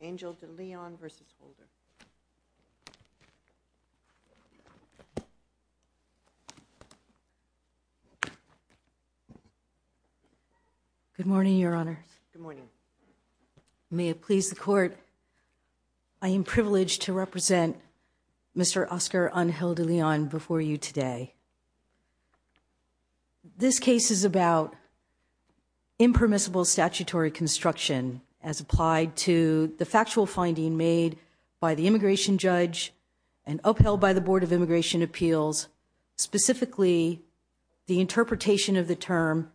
Angel De Leon v. Holder. Good morning, Your Honors. Good morning. May it please the Court, I am privileged to represent Mr. Oscar Angel De Leon before you today. This case is about impermissible statutory construction as applied to the factual finding made by the immigration judge and upheld by the Board of Immigration Appeals, specifically the interpretation of the term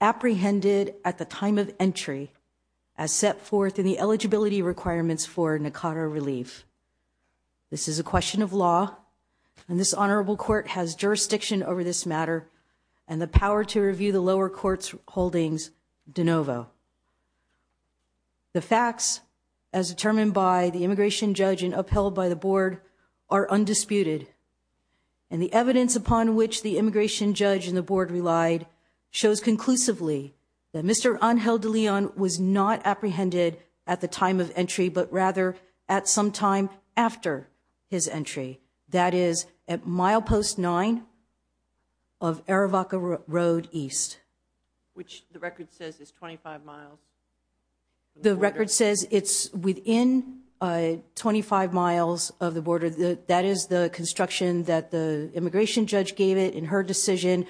apprehended at the time of entry as set forth in the eligibility requirements for Nicara relief. This is a question of law, and this honorable court has jurisdiction over this matter and the power to review the lower court's holdings de novo. The facts, as determined by the immigration judge and upheld by the board, are undisputed, and the evidence upon which the immigration judge and the board relied shows conclusively that Mr. Angel De Leon was not apprehended at the time of entry, but rather at some time after his entry, that is at milepost 9 of Aravaca Road East. Which the record says is 25 miles. The record says it's within 25 miles of the border. That is the construction that the immigration judge gave it in her decision.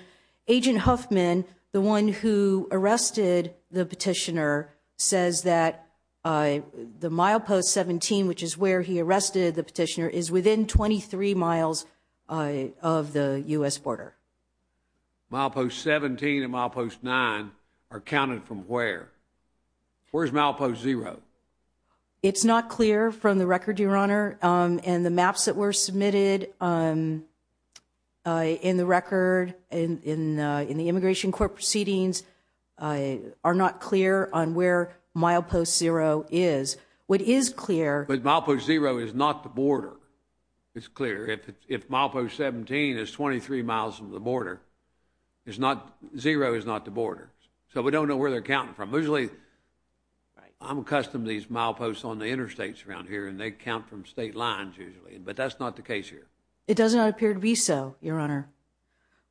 Agent Huffman, the one who arrested the petitioner, says that the milepost 17, which is where he arrested the petitioner, is within 23 miles of the U.S. border. Milepost 17 and milepost 9 are counted from where? Where's milepost 0? It's not clear from the record, your honor, and the maps that were submitted in the record in the immigration court proceedings are not clear on where milepost 0 is. But milepost 0 is not the border. It's clear. If milepost 17 is 23 miles from the border, 0 is not the border. So we don't know where they're counting from. Usually, I'm accustomed to these mileposts on the interstates around here, and they count from state lines usually, but that's not the case here. It does not appear to be so, your honor.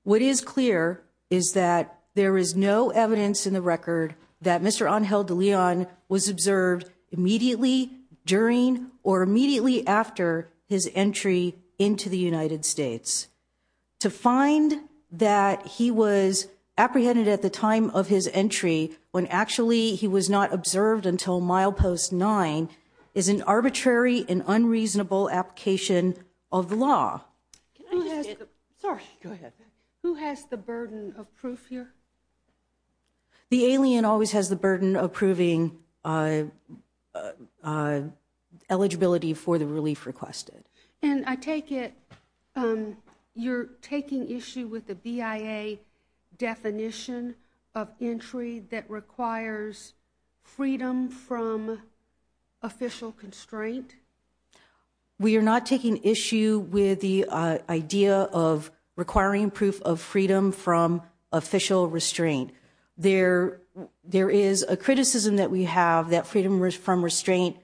What is clear is that there is no evidence in the record that Mr. Angel de Leon was observed immediately during or immediately after his entry into the United States. To find that he was apprehended at the time of his entry when actually he was not observed until milepost 9 is an arbitrary and unreasonable application of the law. Sorry, go ahead. Who has the burden of proof here? The alien always has the burden of proving eligibility for the relief requested. And I take it you're taking issue with the BIA definition of entry that requires freedom from official constraint? We are not taking issue with the idea of requiring proof of freedom from official restraint. There is a criticism that we have that freedom from restraint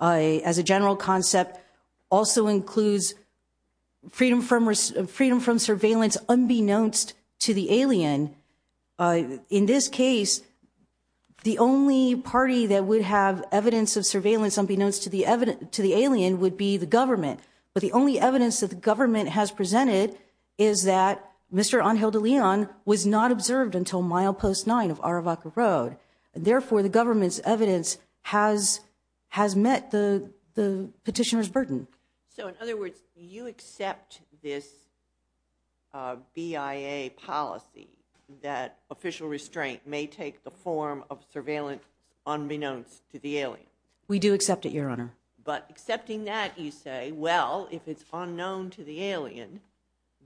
as a general concept also includes freedom from surveillance unbeknownst to the alien. In this case, the only party that would have evidence of surveillance unbeknownst to the alien would be the government. But the only evidence that the government has presented is that Mr. Angel de Leon was not observed until milepost 9 of Aravaca Road. Therefore, the government's evidence has met the petitioner's burden. So in other words, you accept this BIA policy that official restraint may take the form of surveillance unbeknownst to the alien? We do accept it, Your Honor. But accepting that, you say, well, if it's unknown to the alien,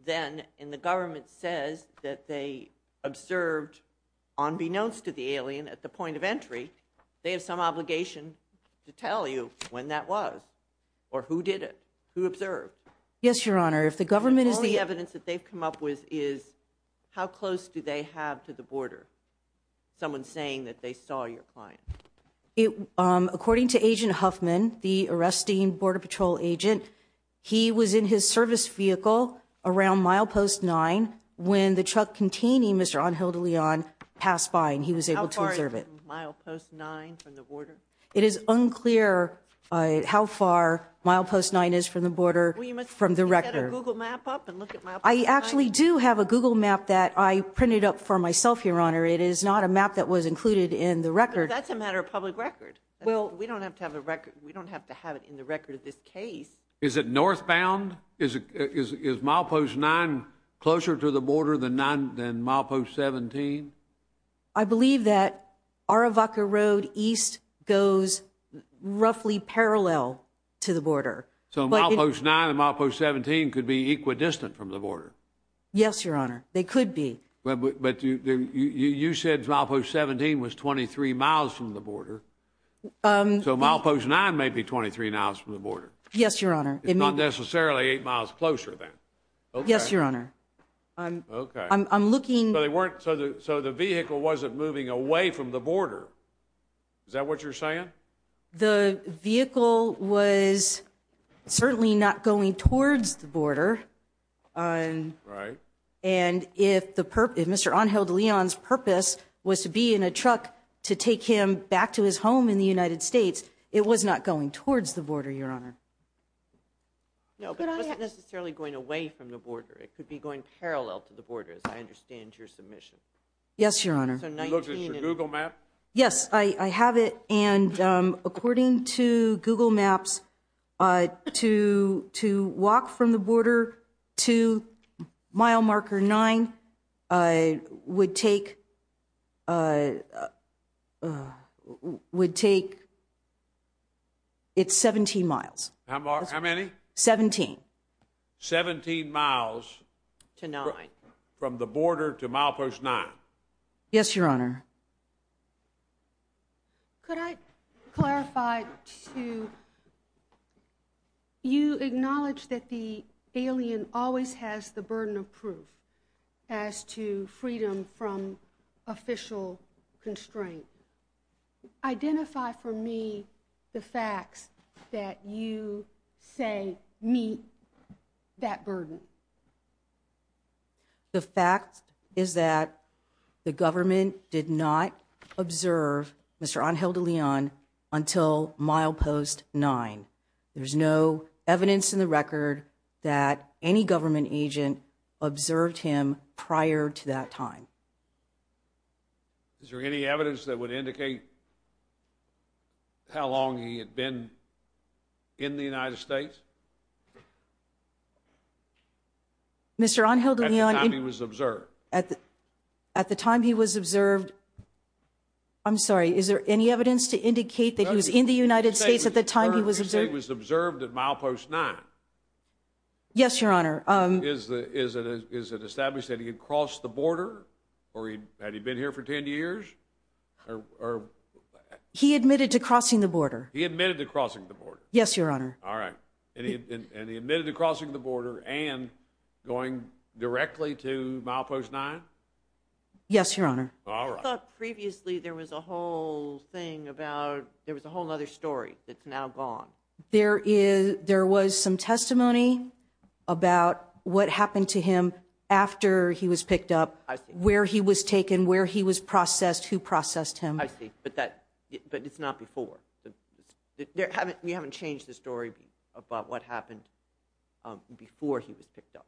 then and the government says that they observed unbeknownst to the alien at the point of entry, they have some obligation to tell you when that was or who did it, who observed. Yes, Your Honor, if the government is the evidence that they've come up with is how close do they have to the border? Someone saying that they saw your client. According to Agent Huffman, the arresting Border Patrol agent, he was in his service vehicle around milepost 9 when the truck containing Mr. Angel de Leon passed by and he was able to observe it. Milepost 9 from the border. It is unclear how far milepost 9 is from the border from the record. Google map up and look at my. I actually do have a Google map that I printed up for myself, Your Honor. It is not a map that was included in the record. That's a matter of public record. Well, we don't have to have a record. We don't have to have it in the record of this case. Is it northbound? Is milepost 9 closer to the border than milepost 17? I believe that Aravaca Road East goes roughly parallel to the border. So milepost 9 and milepost 17 could be equidistant from the border. Yes, Your Honor. They could be. But you said milepost 17 was 23 miles from the border. So milepost 9 may be 23 miles from the border. Yes, Your Honor. It's not necessarily 8 miles closer then. Yes, Your Honor. I'm looking. So the vehicle wasn't moving away from the border. Is that what you're saying? The vehicle was certainly not going towards the border. Right. And if Mr. Angel de Leon's purpose was to be in a truck to take him back to his home in the United States, it was not going towards the border, Your Honor. No, but it wasn't necessarily going away from the border. It could be going parallel to the border, as I understand your submission. Yes, Your Honor. You looked at your Google map? Yes, I have it. And according to Google Maps, to walk from the border to mile marker 9 would take 17 miles. How many? 17. 17 miles from the border to milepost 9. Yes, Your Honor. Could I clarify, too? You acknowledge that the alien always has the burden of proof as to freedom from official constraint. Identify for me the facts that you say meet that burden. The fact is that the government did not observe Mr. Angel de Leon until milepost 9. There's no evidence in the record that any government agent observed him prior to that time. Is there any evidence that would indicate how long he had been in the United States? Mr. Angel de Leon... At the time he was observed. At the time he was observed. I'm sorry, is there any evidence to indicate that he was in the United States at the time he was observed? He was observed at milepost 9. Yes, Your Honor. Is it established that he had crossed the border? Or had he been here for 10 years? He admitted to crossing the border. He admitted to crossing the border. Yes, Your Honor. All right. And he admitted to crossing the border and going directly to milepost 9? Yes, Your Honor. I thought previously there was a whole thing about... There was a whole other story that's now gone. There was some testimony about what happened to him after he was picked up. Where he was taken, where he was processed, who processed him. I see, but it's not before. You haven't changed the story about what happened before he was picked up?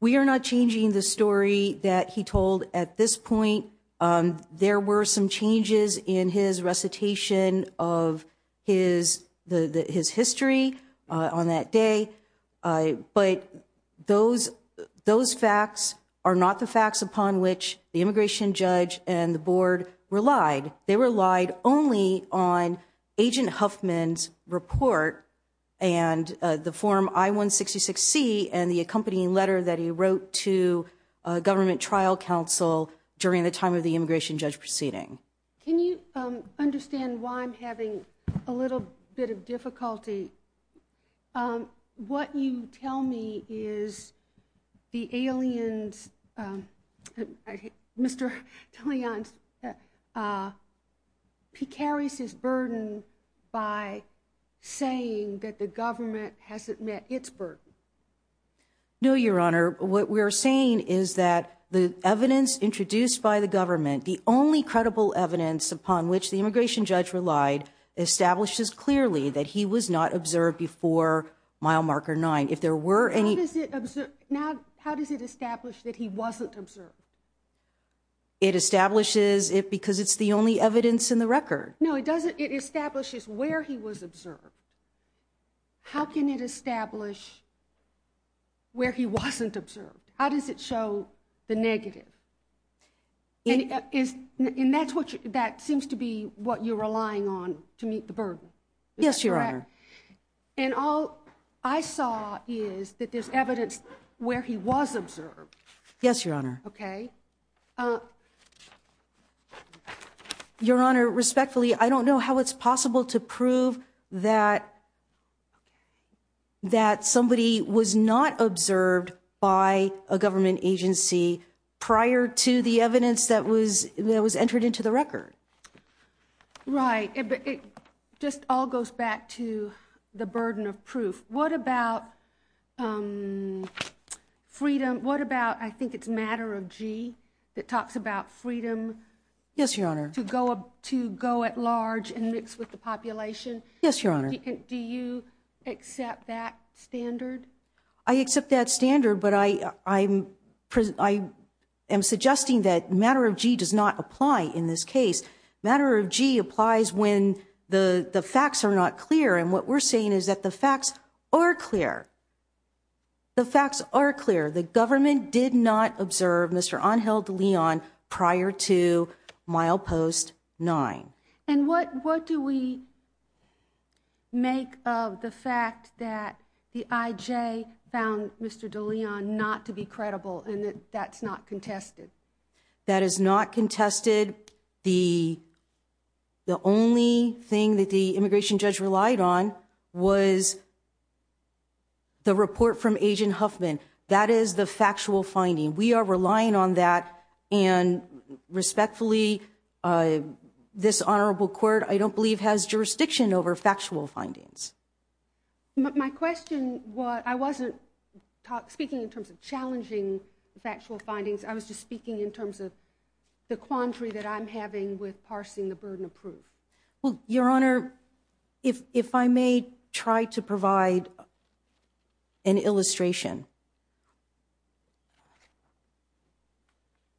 We are not changing the story that he told at this point. There were some changes in his recitation of his history on that day. But those facts are not the facts upon which the immigration judge and the board relied. They relied only on Agent Huffman's report, and the form I-166C, and the accompanying letter that he wrote to a government trial counsel during the time of the immigration judge proceeding. Can you understand why I'm having a little bit of difficulty? What you tell me is the aliens... Mr. DeLeon, he carries his burden by saying that the government hasn't met its burden. No, Your Honor. What we are saying is that the evidence introduced by the government, the only credible evidence upon which the immigration judge relied, establishes clearly that he was not observed before mile marker 9. How does it establish that he wasn't observed? It establishes it because it's the only evidence in the record. No, it establishes where he was observed. How can it establish where he wasn't observed? How does it show the negative? And that seems to be what you're relying on to meet the burden. Yes, Your Honor. And all I saw is that there's evidence where he was observed. Yes, Your Honor. Okay. Your Honor, respectfully, I don't know how it's possible to prove that that somebody was not observed by a government agency prior to the evidence that was entered into the record. Right, but it just all goes back to the burden of proof. What about freedom? What about, I think it's matter of G that talks about freedom? Yes, Your Honor. To go up to go at large and mix with the population. Yes, Your Honor. Do you accept that standard? I accept that standard, but I am suggesting that matter of G does not apply in this case. Matter of G applies when the facts are not clear. And what we're saying is that the facts are clear. The facts are clear. The government did not observe Mr. Angel DeLeon prior to milepost 9. And what do we make of the fact that the IJ found Mr. DeLeon not to be credible and that that's not contested? That is not contested. The only thing that the immigration judge relied on was the report from Agent Huffman. That is the factual finding. We are relying on that. And respectfully, this honorable court, I don't believe has jurisdiction over factual findings. My question, I wasn't speaking in terms of challenging factual findings. I was just speaking in terms of the quandary that I'm having with parsing the burden of proof. Well, Your Honor, if I may try to provide an illustration.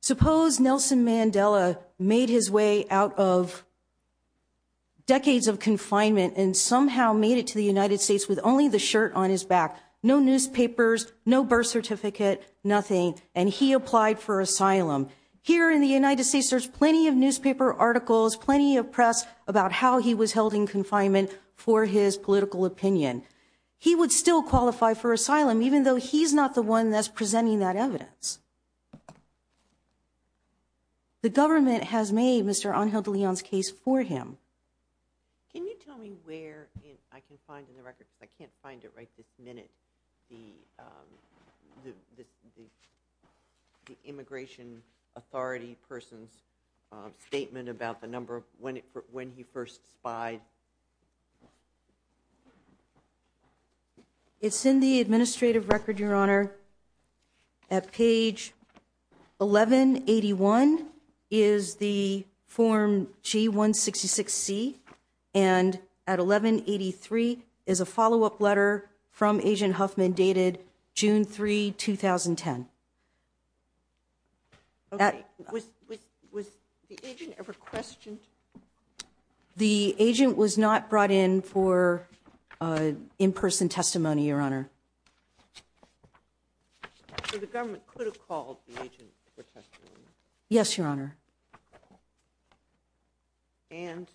Suppose Nelson Mandela made his way out of decades of confinement and somehow made it to the United States with only the shirt on his back. No newspapers, no birth certificate, nothing. And he applied for asylum here in the United States. There's plenty of newspaper articles, plenty of press about how he was held in confinement for his political opinion. He would still qualify for asylum, even though he's not the one that's presenting that evidence. The government has made Mr. Angel DeLeon's case for him. Can you tell me where I can find in the record? I can't find it right this minute. The immigration authority person's statement about the number of when he first spied. At page 1181 is the form G166C, and at 1183 is a follow up letter from Agent Huffman dated June 3, 2010. Was the agent ever questioned? The agent was not brought in for in-person testimony, Your Honor. So the government could have called the agent for testimony? Yes, Your Honor. And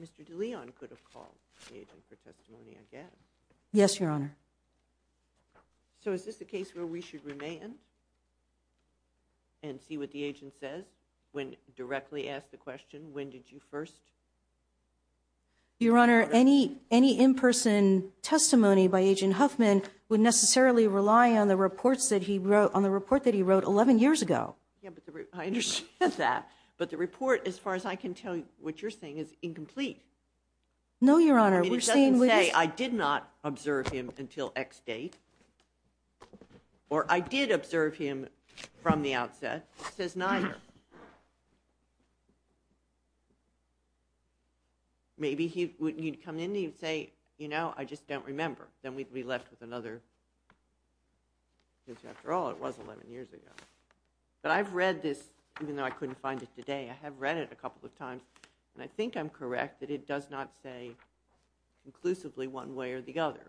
Mr. DeLeon could have called the agent for testimony again? Yes, Your Honor. So is this a case where we should remain and see what the agent says when directly asked the question, when did you first? Your Honor, any in-person testimony by Agent Huffman would necessarily rely on the report that he wrote 11 years ago. I understand that, but the report, as far as I can tell you, what you're saying is incomplete. No, Your Honor. It doesn't say I did not observe him until X date, or I did observe him from the outset. It says neither. Maybe he'd come in and he'd say, you know, I just don't remember. Then we'd be left with another, because after all, it was 11 years ago. But I've read this, even though I couldn't find it today, I have read it a couple of times, and I think I'm correct that it does not say inclusively one way or the other.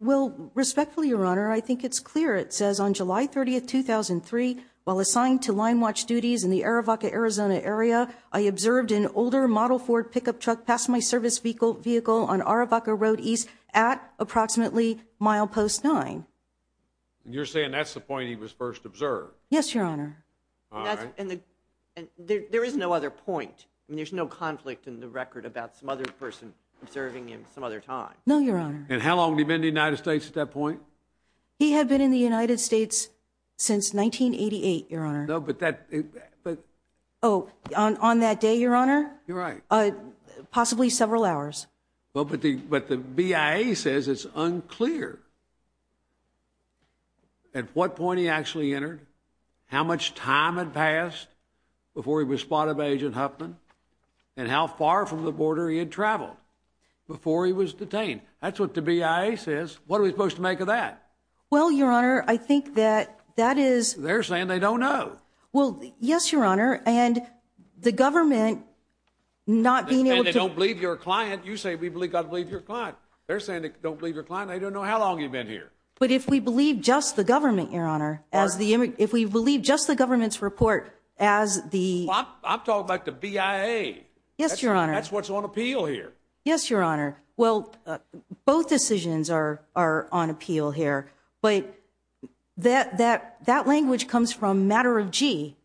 Well, respectfully, Your Honor, I think it's clear. It says, on July 30, 2003, while assigned to line watch duties in the Arivaca, Arizona area, I observed an older model Ford pickup truck pass my service vehicle on Arivaca Road East at approximately mile post 9. And you're saying that's the point he was first observed? Yes, Your Honor. All right. And there is no other point. I mean, there's no conflict in the record about some other person observing him some other time. No, Your Honor. And how long had he been in the United States at that point? He had been in the United States since 1988, Your Honor. No, but that— Oh, on that day, Your Honor? You're right. Possibly several hours. Well, but the BIA says it's unclear at what point he actually entered, how much time had passed before he was spotted by Agent Huffman, and how far from the border he had traveled before he was detained. That's what the BIA says. What are we supposed to make of that? Well, Your Honor, I think that that is— They're saying they don't know. Well, yes, Your Honor, and the government not being able to— And they don't believe your client. You say we've got to believe your client. They're saying they don't believe your client. They don't know how long he'd been here. But if we believe just the government, Your Honor, as the— All right. If we believe just the government's report as the— I'm talking about the BIA. Yes, Your Honor. That's what's on appeal here. Yes, Your Honor. Well, both decisions are on appeal here. But that language comes from Matter of G,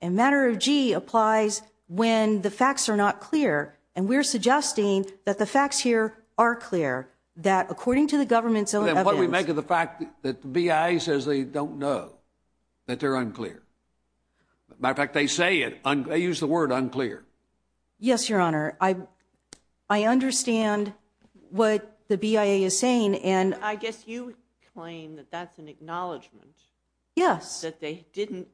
and Matter of G applies when the facts are not clear, and we're suggesting that the facts here are clear, that according to the government's own evidence— Then what do we make of the fact that the BIA says they don't know, that they're unclear? Matter of fact, they say it—they use the word unclear. Yes, Your Honor. I understand what the BIA is saying, and— I guess you would claim that that's an acknowledgment. Yes. That they didn't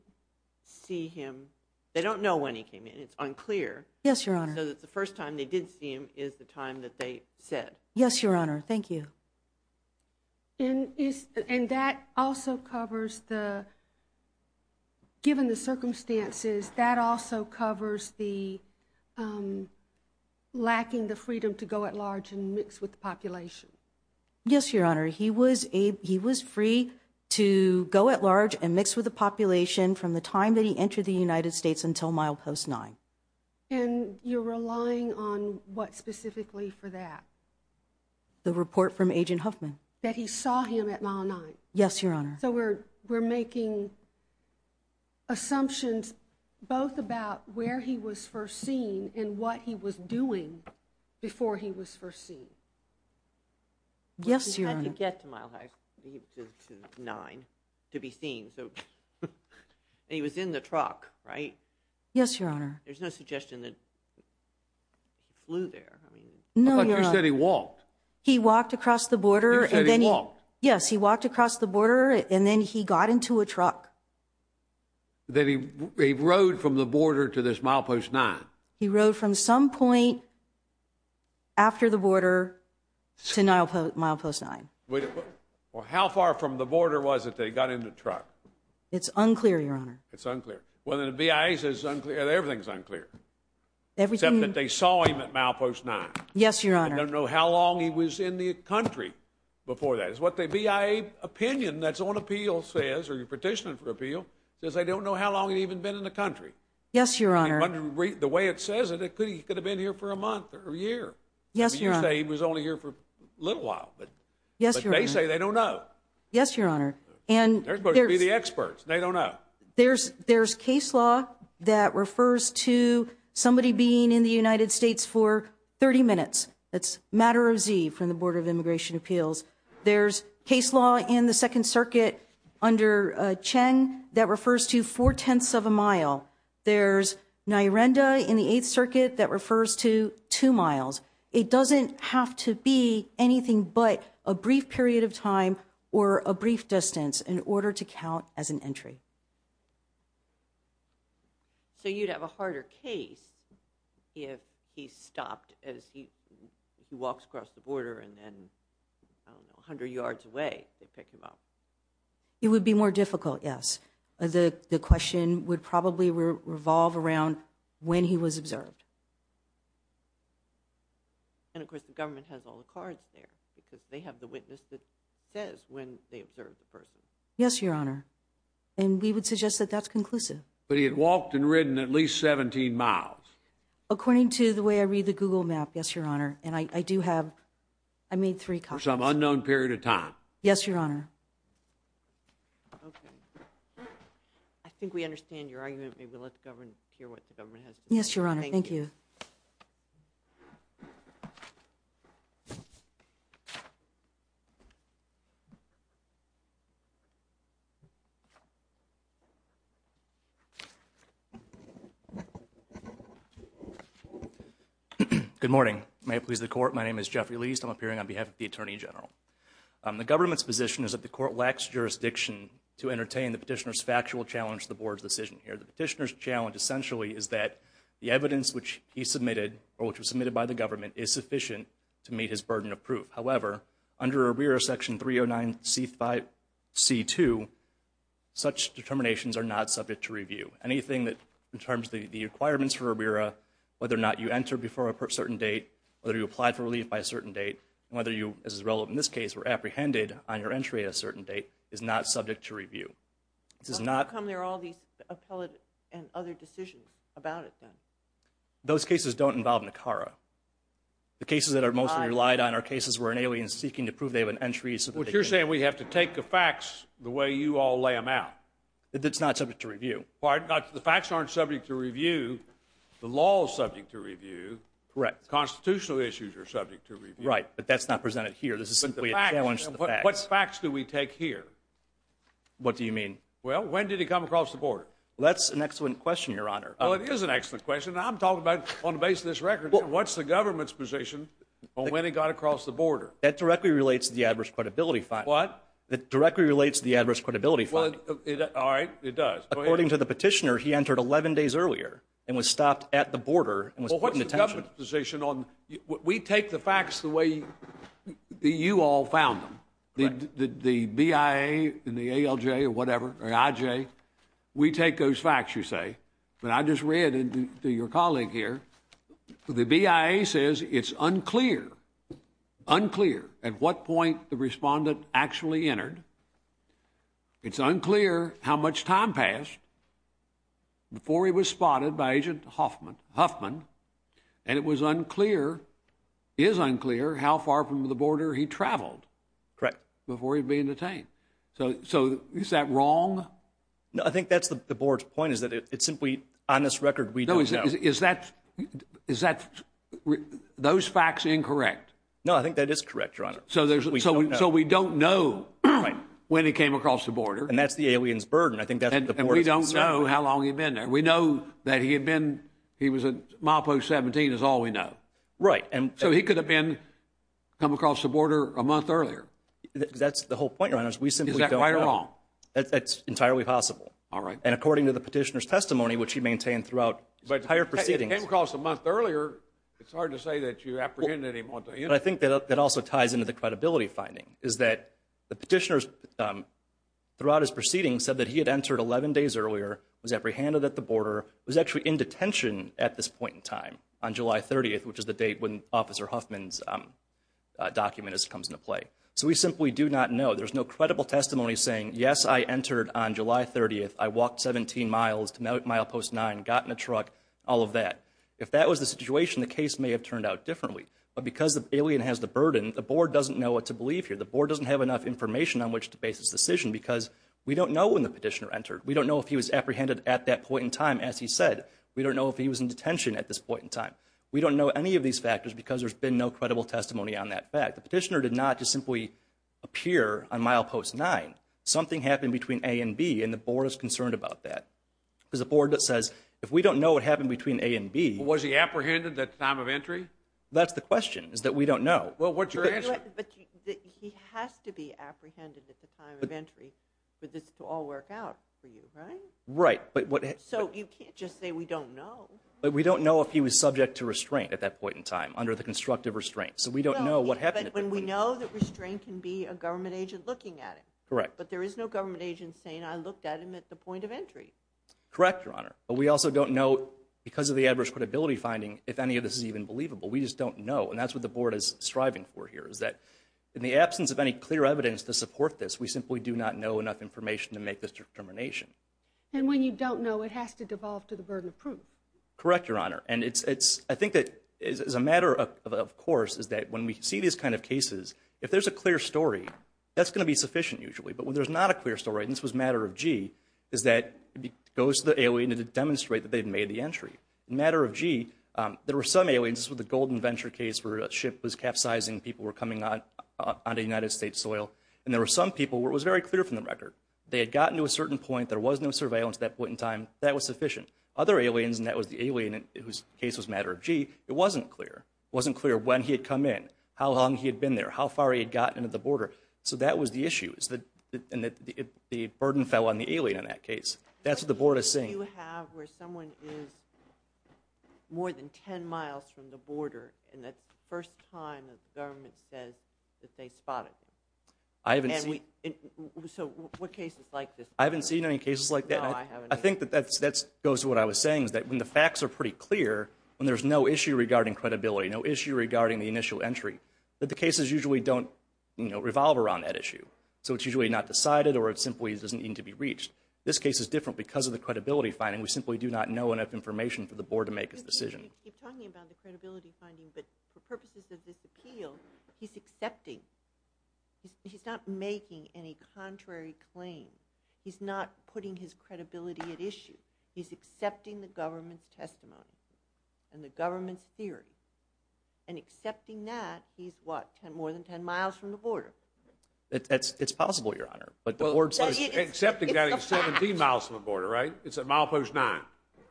see him. They don't know when he came in. It's unclear. Yes, Your Honor. So that the first time they did see him is the time that they said. Yes, Your Honor. Thank you. And that also covers the— Lacking the freedom to go at large and mix with the population. Yes, Your Honor. He was free to go at large and mix with the population from the time that he entered the United States until Milepost 9. And you're relying on what specifically for that? The report from Agent Huffman. That he saw him at Milepost 9? Yes, Your Honor. So we're making assumptions both about where he was first seen and what he was doing before he was first seen. Yes, Your Honor. He had to get to Milepost 9 to be seen. And he was in the truck, right? Yes, Your Honor. There's no suggestion that he flew there. No, Your Honor. But you said he walked. He walked across the border and then he— Yes, he walked across the border and then he got into a truck. That he rode from the border to this Milepost 9? He rode from some point after the border to Milepost 9. Well, how far from the border was it that he got in the truck? It's unclear, Your Honor. It's unclear. Well, then the BIA says it's unclear. Everything's unclear. Everything— Except that they saw him at Milepost 9. Yes, Your Honor. I don't know how long he was in the country before that. Because what the BIA opinion that's on appeal says, or you're petitioning for appeal, says they don't know how long he'd even been in the country. Yes, Your Honor. The way it says it, he could have been here for a month or a year. Yes, Your Honor. You say he was only here for a little while. Yes, Your Honor. But they say they don't know. Yes, Your Honor. They're supposed to be the experts. They don't know. There's case law that refers to somebody being in the United States for 30 minutes. That's matter of Z from the Board of Immigration Appeals. There's case law in the Second Circuit under Cheng that refers to four-tenths of a mile. There's NIRENDA in the Eighth Circuit that refers to two miles. It doesn't have to be anything but a brief period of time or a brief distance in order to count as an entry. So you'd have a harder case if he stopped as he walks across the border and then, I don't know, 100 yards away, they pick him up. It would be more difficult, yes. The question would probably revolve around when he was observed. And, of course, the government has all the cards there because they have the witness that says when they observed the person. Yes, Your Honor. And we would suggest that that's conclusive. But he had walked and ridden at least 17 miles. According to the way I read the Google map, yes, Your Honor. And I do have, I made three copies. For some unknown period of time. Yes, Your Honor. Okay. I think we understand your argument. Maybe we'll let the government hear what the government has to say. Yes, Your Honor. Thank you. Good morning. May it please the Court. My name is Jeffrey Liest. I'm appearing on behalf of the Attorney General. The government's position is that the court lacks jurisdiction to entertain the petitioner's factual challenge to the Board's decision here. The petitioner's challenge essentially is that the evidence which he submitted However, under ARBIRA Section 309C2, such determinations are not subject to review. Anything that, in terms of the requirements for ARBIRA, whether or not you enter before a certain date, whether you apply for relief by a certain date, whether you, as is relevant in this case, were apprehended on your entry at a certain date is not subject to review. How come there are all these appellate and other decisions about it then? Those cases don't involve NACARA. The cases that are mostly relied on are cases where an alien is seeking to prove they have an entry. What you're saying is we have to take the facts the way you all lay them out. It's not subject to review. Pardon? The facts aren't subject to review. The law is subject to review. Correct. Constitutional issues are subject to review. Right, but that's not presented here. This is simply a challenge to the facts. What facts do we take here? What do you mean? Well, when did he come across the Board? That's an excellent question, Your Honor. Oh, it is an excellent question. I'm talking about on the basis of this record. What's the government's position on when he got across the border? That directly relates to the Adverse Credibility Fund. What? That directly relates to the Adverse Credibility Fund. All right, it does. According to the petitioner, he entered 11 days earlier and was stopped at the border and was put in detention. Well, what's the government's position on we take the facts the way you all found them, the BIA and the ALJ or whatever, or IJ, we take those facts, you say, but I just read to your colleague here, the BIA says it's unclear, unclear, at what point the respondent actually entered. It's unclear how much time passed before he was spotted by Agent Huffman, and it was unclear, is unclear, how far from the border he traveled before he was being detained. So is that wrong? No, I think that's the board's point, is that it's simply on this record we don't know. No, is that, is that, those facts incorrect? No, I think that is correct, Your Honor. So there's, so we don't know when he came across the border. And that's the alien's burden. I think that's the board's concern. And we don't know how long he'd been there. We know that he had been, he was at milepost 17 is all we know. Right. So he could have been, come across the border a month earlier. That's the whole point, Your Honor, is we simply don't know. Is that right or wrong? That's entirely possible. All right. And according to the petitioner's testimony, which he maintained throughout entire proceedings. But he came across a month earlier. It's hard to say that you apprehended him on the internet. But I think that also ties into the credibility finding, is that the petitioner's, throughout his proceedings, said that he had entered 11 days earlier, was apprehended at the border, was actually in detention at this point in time on July 30th, which is the date when Officer Huffman's document comes into play. So we simply do not know. There's no credible testimony saying, yes, I entered on July 30th. I walked 17 miles to milepost 9, got in a truck, all of that. If that was the situation, the case may have turned out differently. But because the alien has the burden, the board doesn't know what to believe here. The board doesn't have enough information on which to base its decision because we don't know when the petitioner entered. We don't know if he was apprehended at that point in time, as he said. We don't know if he was in detention at this point in time. We don't know any of these factors because there's been no credible testimony on that fact. The petitioner did not just simply appear on milepost 9. Something happened between A and B, and the board is concerned about that. Because the board says, if we don't know what happened between A and B. Was he apprehended at the time of entry? That's the question, is that we don't know. Well, what's your answer? But he has to be apprehended at the time of entry for this to all work out for you, right? Right. So you can't just say we don't know. We don't know if he was subject to restraint at that point in time, under the constructive restraint. So we don't know what happened. But we know that restraint can be a government agent looking at him. Correct. But there is no government agent saying, I looked at him at the point of entry. Correct, Your Honor. But we also don't know, because of the adverse credibility finding, if any of this is even believable. We just don't know. And that's what the board is striving for here, is that in the absence of any clear evidence to support this, we simply do not know enough information to make this determination. And when you don't know, it has to devolve to the burden of proof. Correct, Your Honor. I think that as a matter of course, is that when we see these kind of cases, if there's a clear story, that's going to be sufficient usually. But when there's not a clear story, and this was a matter of gee, is that it goes to the alien to demonstrate that they've made the entry. Matter of gee, there were some aliens, this was the Golden Venture case where a ship was capsizing, people were coming on to United States soil. And there were some people where it was very clear from the record. They had gotten to a certain point, there was no surveillance at that point in time, that was sufficient. Other aliens, and that was the alien whose case was a matter of gee, it wasn't clear. It wasn't clear when he had come in, how long he had been there, how far he had gotten to the border. So that was the issue, and the burden fell on the alien in that case. That's what the board is saying. Do you have where someone is more than 10 miles from the border, and that's the first time that the government says that they spotted them? I haven't seen. So what cases like this? I haven't seen any cases like that. No, I haven't either. I think that goes to what I was saying is that when the facts are pretty clear, when there's no issue regarding credibility, no issue regarding the initial entry, that the cases usually don't revolve around that issue. So it's usually not decided or it simply doesn't need to be reached. This case is different because of the credibility finding. We simply do not know enough information for the board to make its decision. You keep talking about the credibility finding, but for purposes of this appeal, he's accepting. He's not making any contrary claims. He's not putting his credibility at issue. He's accepting the government's testimony and the government's theory, and accepting that he's, what, more than 10 miles from the border? It's possible, Your Honor, but the board says it's the facts. Accepting that he's 17 miles from the border, right? It's at milepost 9.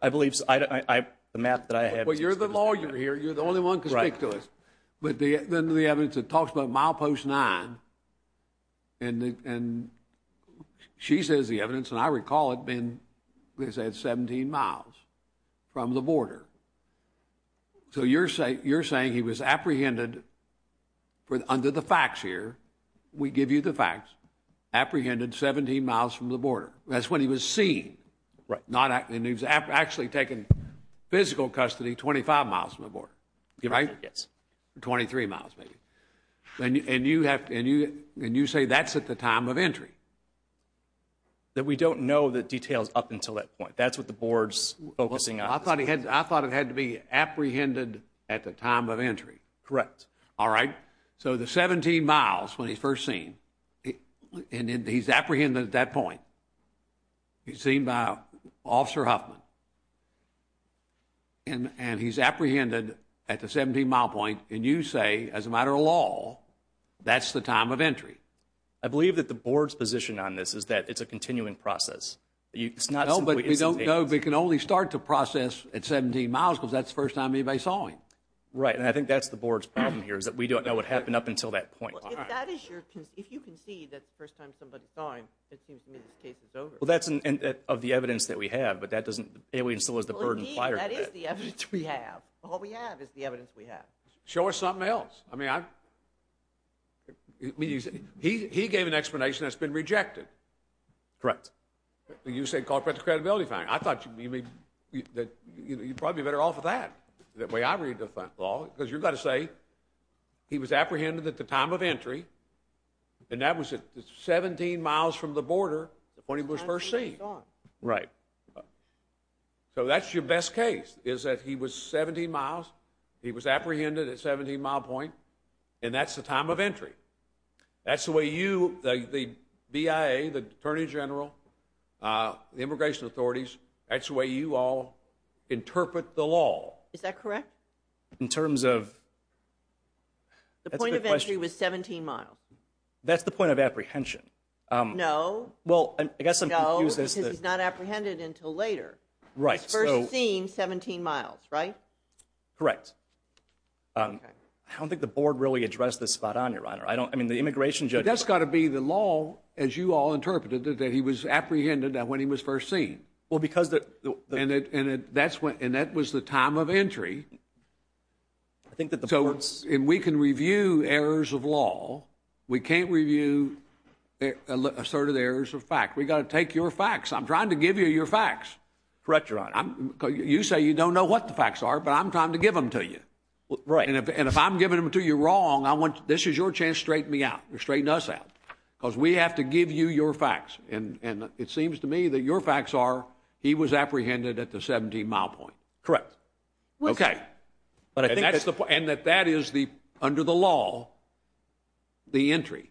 I believe the math that I have is consistent. Well, you're the lawyer here. You're the only one who can speak to this. But then the evidence that talks about milepost 9, and she says the evidence, and I recall it being, they said 17 miles from the border. So you're saying he was apprehended under the facts here. We give you the facts. Apprehended 17 miles from the border. That's when he was seen. And he was actually taken physical custody 25 miles from the border. Right? Yes. 23 miles, maybe. And you say that's at the time of entry. That we don't know the details up until that point. That's what the board's focusing on. I thought it had to be apprehended at the time of entry. Correct. All right. So the 17 miles when he's first seen, and he's apprehended at that point. He's seen by Officer Huffman. And he's apprehended at the 17 mile point. And you say, as a matter of law, that's the time of entry. I believe that the board's position on this is that it's a continuing process. No, but we can only start to process at 17 miles because that's the first time anybody saw him. Right. And I think that's the board's problem here is that we don't know what happened up until that point. If you concede that's the first time somebody saw him, it seems to me this case is over. Well, that's of the evidence that we have. But that doesn't instill as the burden prior to that. Indeed, that is the evidence we have. All we have is the evidence we have. Show us something else. I mean, he gave an explanation that's been rejected. Correct. You said corporate credibility finding. I thought you'd probably be better off with that, the way I read the law. Because you've got to say he was apprehended at the time of entry. And that was at 17 miles from the border when he was first seen. Right. So that's your best case, is that he was 17 miles, he was apprehended at 17 mile point, and that's the time of entry. That's the way you, the BIA, the Attorney General, the immigration authorities, that's the way you all interpret the law. Is that correct? In terms of? The point of entry was 17 miles. That's the point of apprehension. No. Well, I guess I'm confused. No, because he's not apprehended until later. Right. He was first seen 17 miles, right? Correct. I don't think the board really addressed this spot on, Your Honor. I mean, the immigration judge. But that's got to be the law, as you all interpreted it, that he was apprehended when he was first seen. Well, because the. And that was the time of entry. I think that the. And we can review errors of law. We can't review asserted errors of fact. We've got to take your facts. I'm trying to give you your facts. Correct, Your Honor. You say you don't know what the facts are, but I'm trying to give them to you. Right. And if I'm giving them to you wrong, this is your chance to straighten me out, straighten us out, because we have to give you your facts. And it seems to me that your facts are he was apprehended at the 17 mile point. Correct. Okay. But I think. And that is the, under the law, the entry.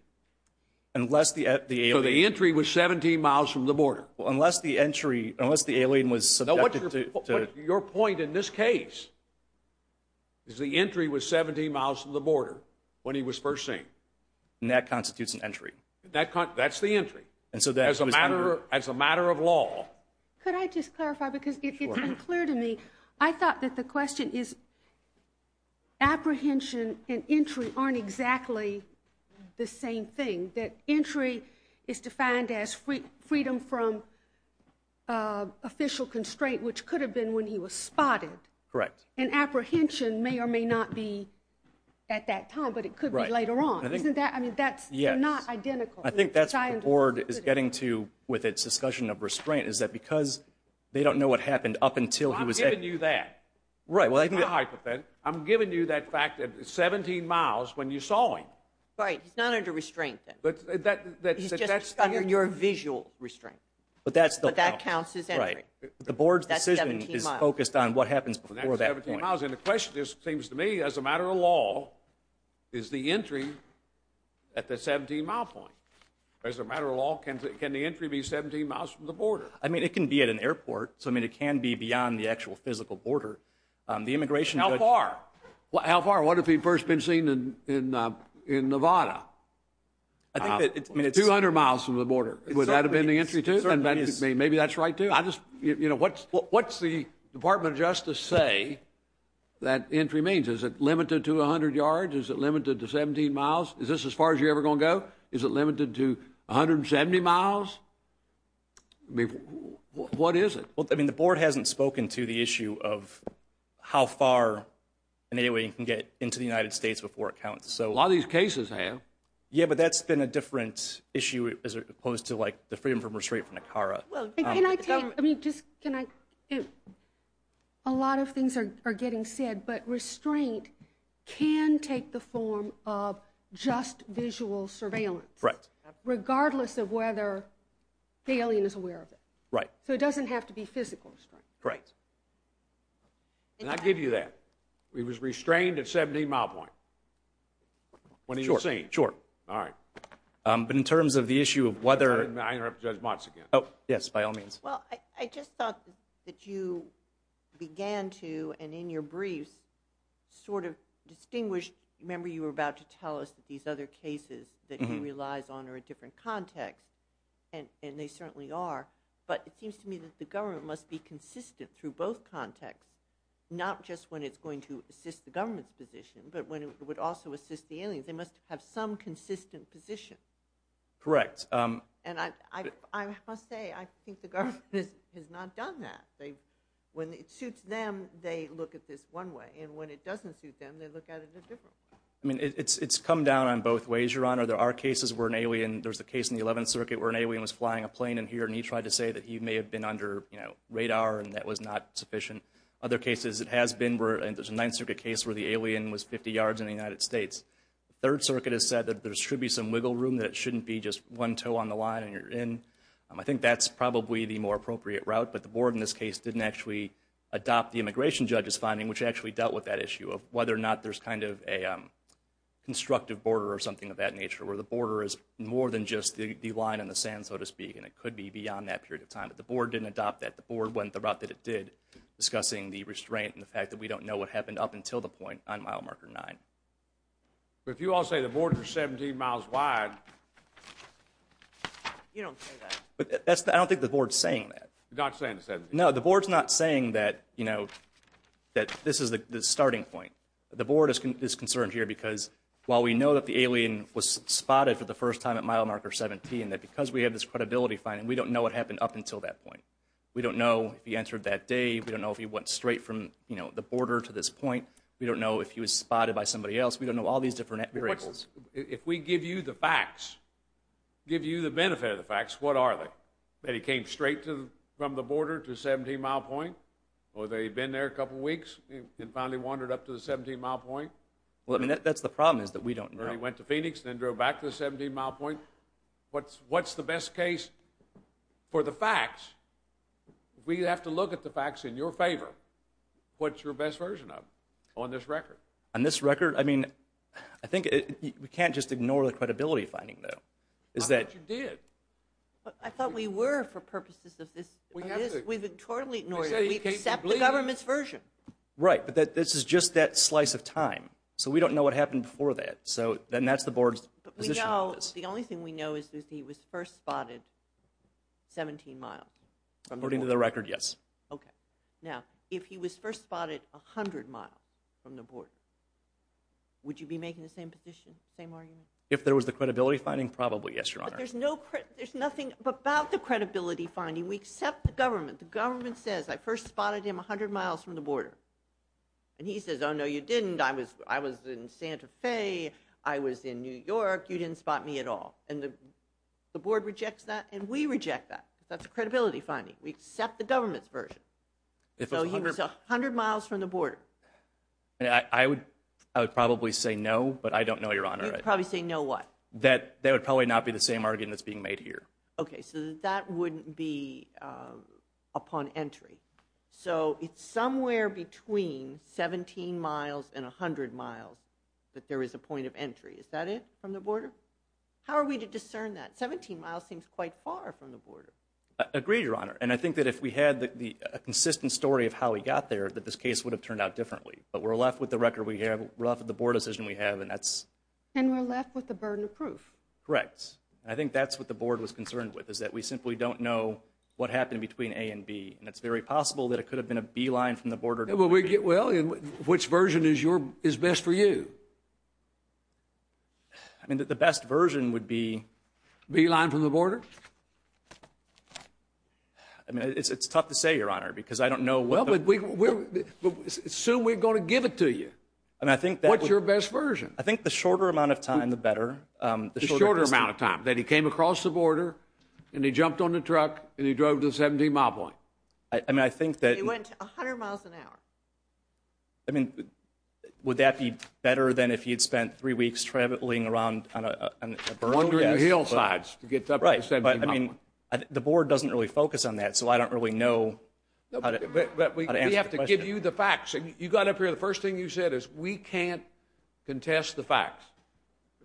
Unless the alien. So the entry was 17 miles from the border. Unless the entry, unless the alien was subjected to. Your point in this case is the entry was 17 miles from the border when he was first seen. And that constitutes an entry. That's the entry. And so that. As a matter of law. Could I just clarify, because it's been clear to me. I thought that the question is apprehension and entry aren't exactly the same thing. That entry is defined as freedom from official constraint, which could have been when he was spotted. Correct. And apprehension may or may not be at that time, but it could be later on. Isn't that, I mean, that's not identical. I think that's what the board is getting to with its discussion of restraint. Is that because they don't know what happened up until he was. I'm giving you that. Right. Well. I'm giving you that fact that 17 miles when you saw him. Right. He's not under restraint then. He's just under your visual restraint. But that's the. But that counts as entry. Right. The board's decision is focused on what happens before that point. And the question just seems to me, as a matter of law, is the entry at the 17 mile point. As a matter of law, can the entry be 17 miles from the border? I mean, it can be at an airport. So, I mean, it can be beyond the actual physical border. The immigration. How far? How far? What if he'd first been seen in Nevada? 200 miles from the border. Would that have been the entry to it? Maybe that's right, too. What's the Department of Justice say that entry means? Is it limited to 100 yards? Is it limited to 17 miles? Is this as far as you're ever going to go? Is it limited to 170 miles? I mean, what is it? Well, I mean, the board hasn't spoken to the issue of how far an alien can get into the United States before it counts. A lot of these cases have. Yeah, but that's been a different issue as opposed to, like, the freedom from restraint from Nicara. Well, can I take – I mean, just can I – a lot of things are getting said, but restraint can take the form of just visual surveillance. Right. Regardless of whether the alien is aware of it. Right. So it doesn't have to be physical restraint. Right. And I give you that. He was restrained at 17 mile point. When he was seen. Sure, sure. All right. But in terms of the issue of whether – Oh, yes, by all means. Well, I just thought that you began to, and in your briefs, sort of distinguish – remember you were about to tell us that these other cases that he relies on are a different context, and they certainly are, but it seems to me that the government must be consistent through both contexts, not just when it's going to assist the government's position, but when it would also assist the aliens. They must have some consistent position. Correct. And I must say, I think the government has not done that. When it suits them, they look at this one way. And when it doesn't suit them, they look at it a different way. I mean, it's come down on both ways, Your Honor. There are cases where an alien – there's a case in the 11th Circuit where an alien was flying a plane in here, and he tried to say that he may have been under radar and that was not sufficient. Other cases it has been, and there's a 9th Circuit case where the alien was 50 yards in the United States. The 3rd Circuit has said that there should be some wiggle room, that it shouldn't be just one toe on the line and you're in. I think that's probably the more appropriate route, but the board in this case didn't actually adopt the immigration judge's finding, which actually dealt with that issue of whether or not there's kind of a constructive border or something of that nature, where the border is more than just the line in the sand, so to speak, and it could be beyond that period of time. But the board didn't adopt that. The board went the route that it did, discussing the restraint and the fact that we don't know what happened up until the point on mile marker 9. But if you all say the border's 17 miles wide – You don't say that. I don't think the board's saying that. You're not saying it's 17. No, the board's not saying that, you know, that this is the starting point. The board is concerned here because while we know that the alien was spotted for the first time at mile marker 17 and that because we have this credibility finding, we don't know what happened up until that point. We don't know if he entered that day. We don't know if he went straight from, you know, the border to this point. We don't know if he was spotted by somebody else. We don't know all these different areas. If we give you the facts, give you the benefit of the facts, what are they? That he came straight from the border to 17-mile point, or that he'd been there a couple weeks and finally wandered up to the 17-mile point? Well, I mean, that's the problem is that we don't know. Or he went to Phoenix and then drove back to the 17-mile point. What's the best case for the facts? We have to look at the facts in your favor. What's your best version of it on this record? On this record? I mean, I think we can't just ignore the credibility finding, though. I thought you did. I thought we were for purposes of this. We've totally ignored it. We accept the government's version. Right, but this is just that slice of time. So we don't know what happened before that. So then that's the board's position on this. The only thing we know is that he was first spotted 17 miles. According to the record, yes. Okay. Now, if he was first spotted 100 miles from the border, would you be making the same position, same argument? If there was the credibility finding, probably, yes, Your Honor. But there's nothing about the credibility finding. We accept the government. The government says, I first spotted him 100 miles from the border. And he says, oh, no, you didn't. I was in Santa Fe. I was in New York. You didn't spot me at all. And the board rejects that, and we reject that. That's a credibility finding. We accept the government's version. So he was 100 miles from the border. I would probably say no, but I don't know, Your Honor. You'd probably say no what? That that would probably not be the same argument that's being made here. Okay, so that wouldn't be upon entry. So it's somewhere between 17 miles and 100 miles that there is a point of entry. Is that it? From the border? How are we to discern that? 17 miles seems quite far from the border. Agreed, Your Honor. And I think that if we had a consistent story of how we got there, that this case would have turned out differently. But we're left with the record we have. We're left with the board decision we have, and that's... And we're left with the burden of proof. Correct. I think that's what the board was concerned with, is that we simply don't know what happened between A and B. And it's very possible that it could have been a B line from the border. Well, which version is best for you? I mean, the best version would be... B line from the border? I mean, it's tough to say, Your Honor, because I don't know... Well, assume we're going to give it to you. What's your best version? I think the shorter amount of time, the better. The shorter amount of time, that he came across the border, and he jumped on the truck, and he drove to the 17-mile point. I mean, I think that... He went 100 miles an hour. I mean, would that be better than if he had spent three weeks traveling around on a... Wandering the hillsides to get to the 17-mile point. Right. But, I mean, the board doesn't really focus on that, so I don't really know how to answer the question. But we have to give you the facts. You got up here, and the first thing you said is, we can't contest the facts.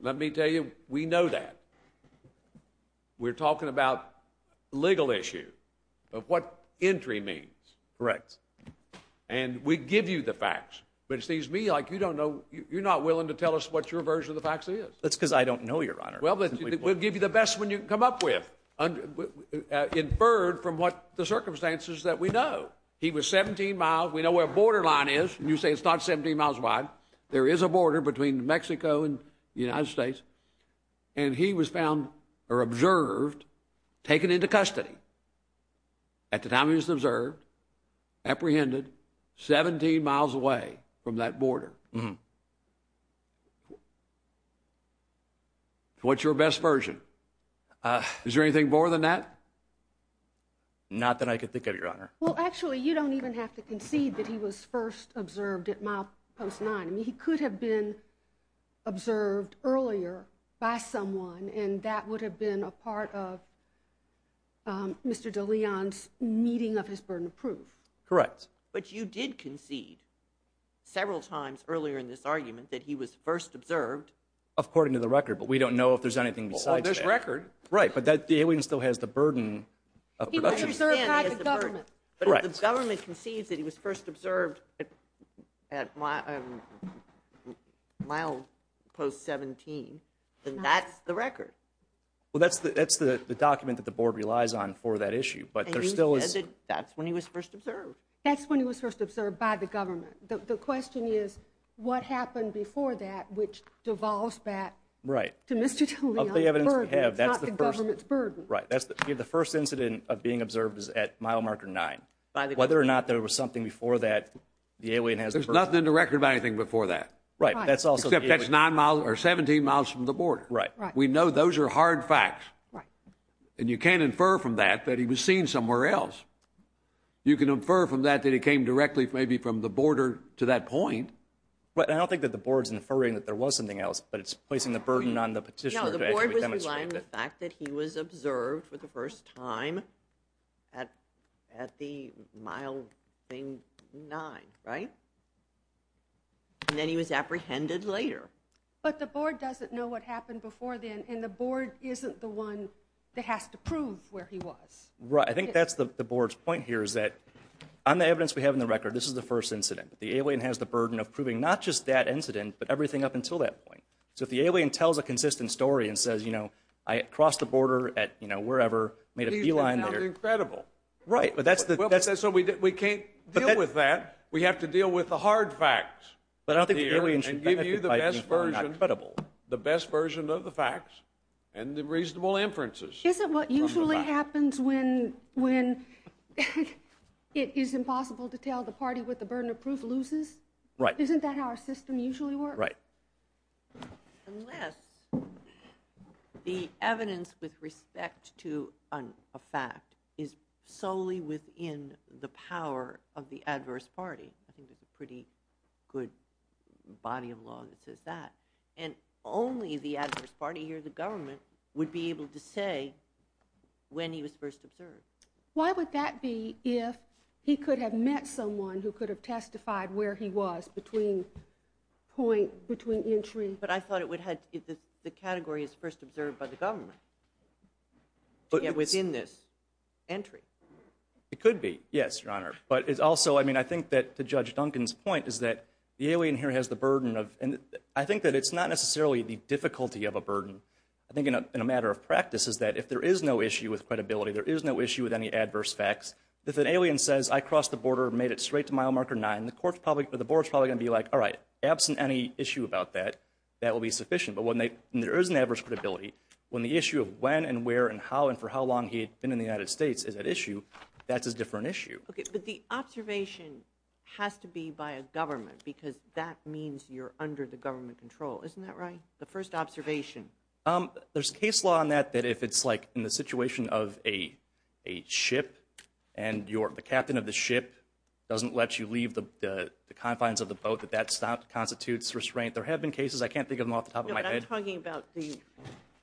Let me tell you, we know that. We're talking about a legal issue of what entry means. Correct. And we give you the facts. But it seems to me like you don't know... You're not willing to tell us what your version of the facts is. That's because I don't know, Your Honor. Well, we'll give you the best one you can come up with, inferred from what the circumstances that we know. He was 17 miles. We know where the borderline is. You say it's not 17 miles wide. There is a border between Mexico and the United States. And he was found, or observed, taken into custody at the time he was observed, apprehended 17 miles away from that border. What's your best version? Is there anything more than that? Not that I can think of, Your Honor. Well, actually, you don't even have to concede that he was first observed at milepost 9. I mean, he could have been observed earlier by someone, and that would have been a part of Mr. de Leon's meeting of his burden of proof. Correct. But you did concede several times earlier in this argument that he was first observed. According to the record, but we don't know if there's anything besides that. Well, there's the record. Right, but the alien still has the burden of production. He was observed by the government. Correct. But if the government concedes that he was first observed at milepost 17, then that's the record. Well, that's the document that the board relies on for that issue, but there still is... And you said that that's when he was first observed. That's when he was first observed by the government. The question is, what happened before that which devolves back to Mr. de Leon's burden, not the government's burden. Right, the first incident of being observed is at mile marker 9. Whether or not there was something before that, the alien has the burden... There's nothing in the record about anything before that. Right. Except that's 17 miles from the border. Right. We know those are hard facts. Right. And you can't infer from that that he was seen somewhere else. You can infer from that that he came directly maybe from the border to that point. But I don't think that the board's inferring that there was something else, but it's placing the burden on the petitioner to actually demonstrate that. No, the board was relying on the fact that he was observed for the first time at the mile thing 9, right? And then he was apprehended later. But the board doesn't know what happened before then, and the board isn't the one that has to prove where he was. Right, I think that's the board's point here is that on the evidence we have in the record, this is the first incident. The alien has the burden of proving not just that incident, but everything up until that point. So if the alien tells a consistent story and says, you know, I crossed the border at, you know, wherever, made a beeline there. These things sound incredible. Right, but that's the... So we can't deal with that. We have to deal with the hard facts here and give you the best version, the best version of the facts and the reasonable inferences. Isn't what usually happens when it is impossible to tell the party what the burden of proof loses? Right. Isn't that how our system usually works? Right. Unless the evidence with respect to a fact is solely within the power of the adverse party. I think there's a pretty good body of law that says that. And only the adverse party here, the government, would be able to say when he was first observed. Why would that be if he could have met someone who could have testified where he was between point, between entry? But I thought it would have, if the category is first observed by the government, to get within this entry. It could be, yes, Your Honor. But it's also, I mean, I think that to Judge Duncan's point is that the alien here has the burden of, and I think that it's not necessarily the difficulty of a burden. I think in a matter of practice is that if there is no issue with credibility, there is no issue with any adverse facts, if an alien says, I crossed the border, made it straight to mile marker 9, the board's probably going to be like, all right, absent any issue about that, that will be sufficient. But when there is an adverse credibility, when the issue of when and where and how and for how long he had been in the United States is at issue, that's a different issue. Okay, but the observation has to be by a government because that means you're under the government control. Isn't that right? The first observation. There's case law on that that if it's like in the situation of a ship and the captain of the ship doesn't let you leave the confines of the boat, that that constitutes restraint. There have been cases. I can't think of them off the top of my head. No, but I'm talking about the,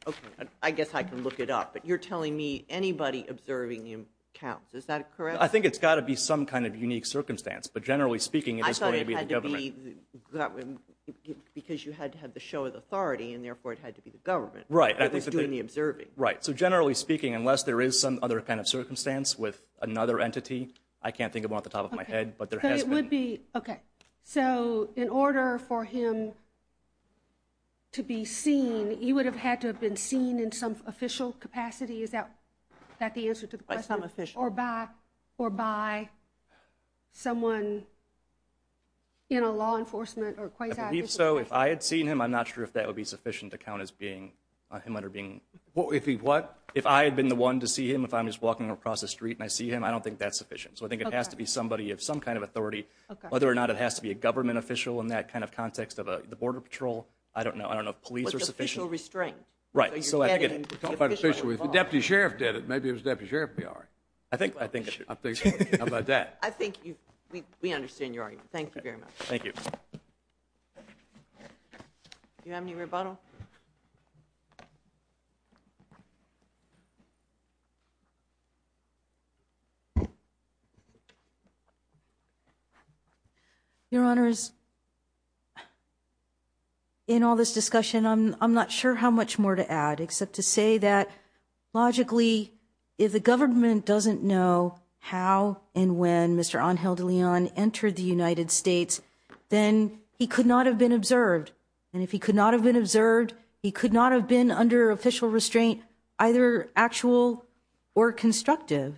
okay, I guess I can look it up, but you're telling me anybody observing him counts. Is that correct? I think it's got to be some kind of unique circumstance, but generally speaking, it is going to be the government. I thought it had to be because you had to have the show of authority and therefore it had to be the government that was doing the observing. Right, so generally speaking, unless there is some other kind of circumstance with another entity, I can't think of one off the top of my head, but there has been. But it would be, okay, so in order for him to be seen, he would have had to have been seen in some official capacity. Is that the answer to the question? By some official. Or by someone in a law enforcement or quasi-official capacity. I believe so. If I had seen him, I'm not sure if that would be sufficient to count as him under being. If he what? If I had been the one to see him, if I'm just walking across the street and I see him, I don't think that's sufficient. So I think it has to be somebody of some kind of authority. Whether or not it has to be a government official in that kind of context of the border patrol, I don't know. I don't know if police are sufficient. With official restraint. Right. So I think it. If the deputy sheriff did it, maybe if it was the deputy sheriff, it would be all right. I think so. How about that? I think we understand your argument. Thank you very much. Thank you. Do you have any rebuttal? Your Honor is. In all this discussion, I'm not sure how much more to add, except to say that logically, if the government doesn't know how and when Mr. Angel de Leon entered the United States, then he could not have been observed. And if he could not have been observed, he could not have been under official restraint, either actual or official. Or constructive.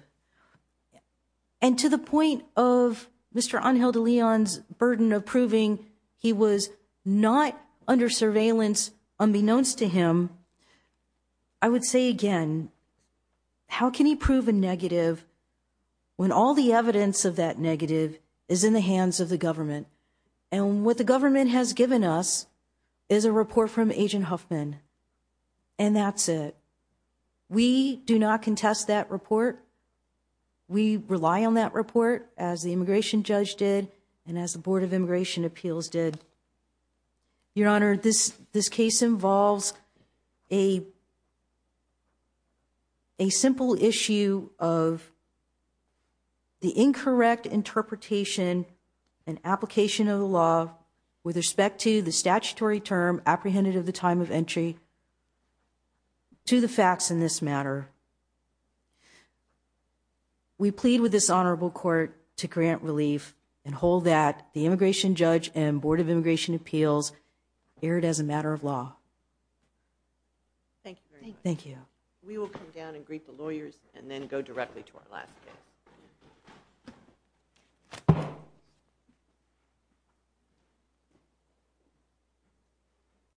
And to the point of Mr. Angel de Leon's burden of proving he was not under surveillance, unbeknownst to him. I would say again, how can he prove a negative when all the evidence of that negative is in the hands of the government? And what the government has given us is a report from Agent Huffman. And that's it. We do not contest that report. We rely on that report as the immigration judge did and as the Board of Immigration Appeals did. Your Honor, this case involves a simple issue of the incorrect interpretation and application of the law with respect to the statutory term apprehended at the time of entry to the facts in this matter. We plead with this honorable court to grant relief and hold that the immigration judge and Board of Immigration Appeals hear it as a matter of law. Thank you very much. Thank you. We will come down and greet the lawyers and then go directly to our last case.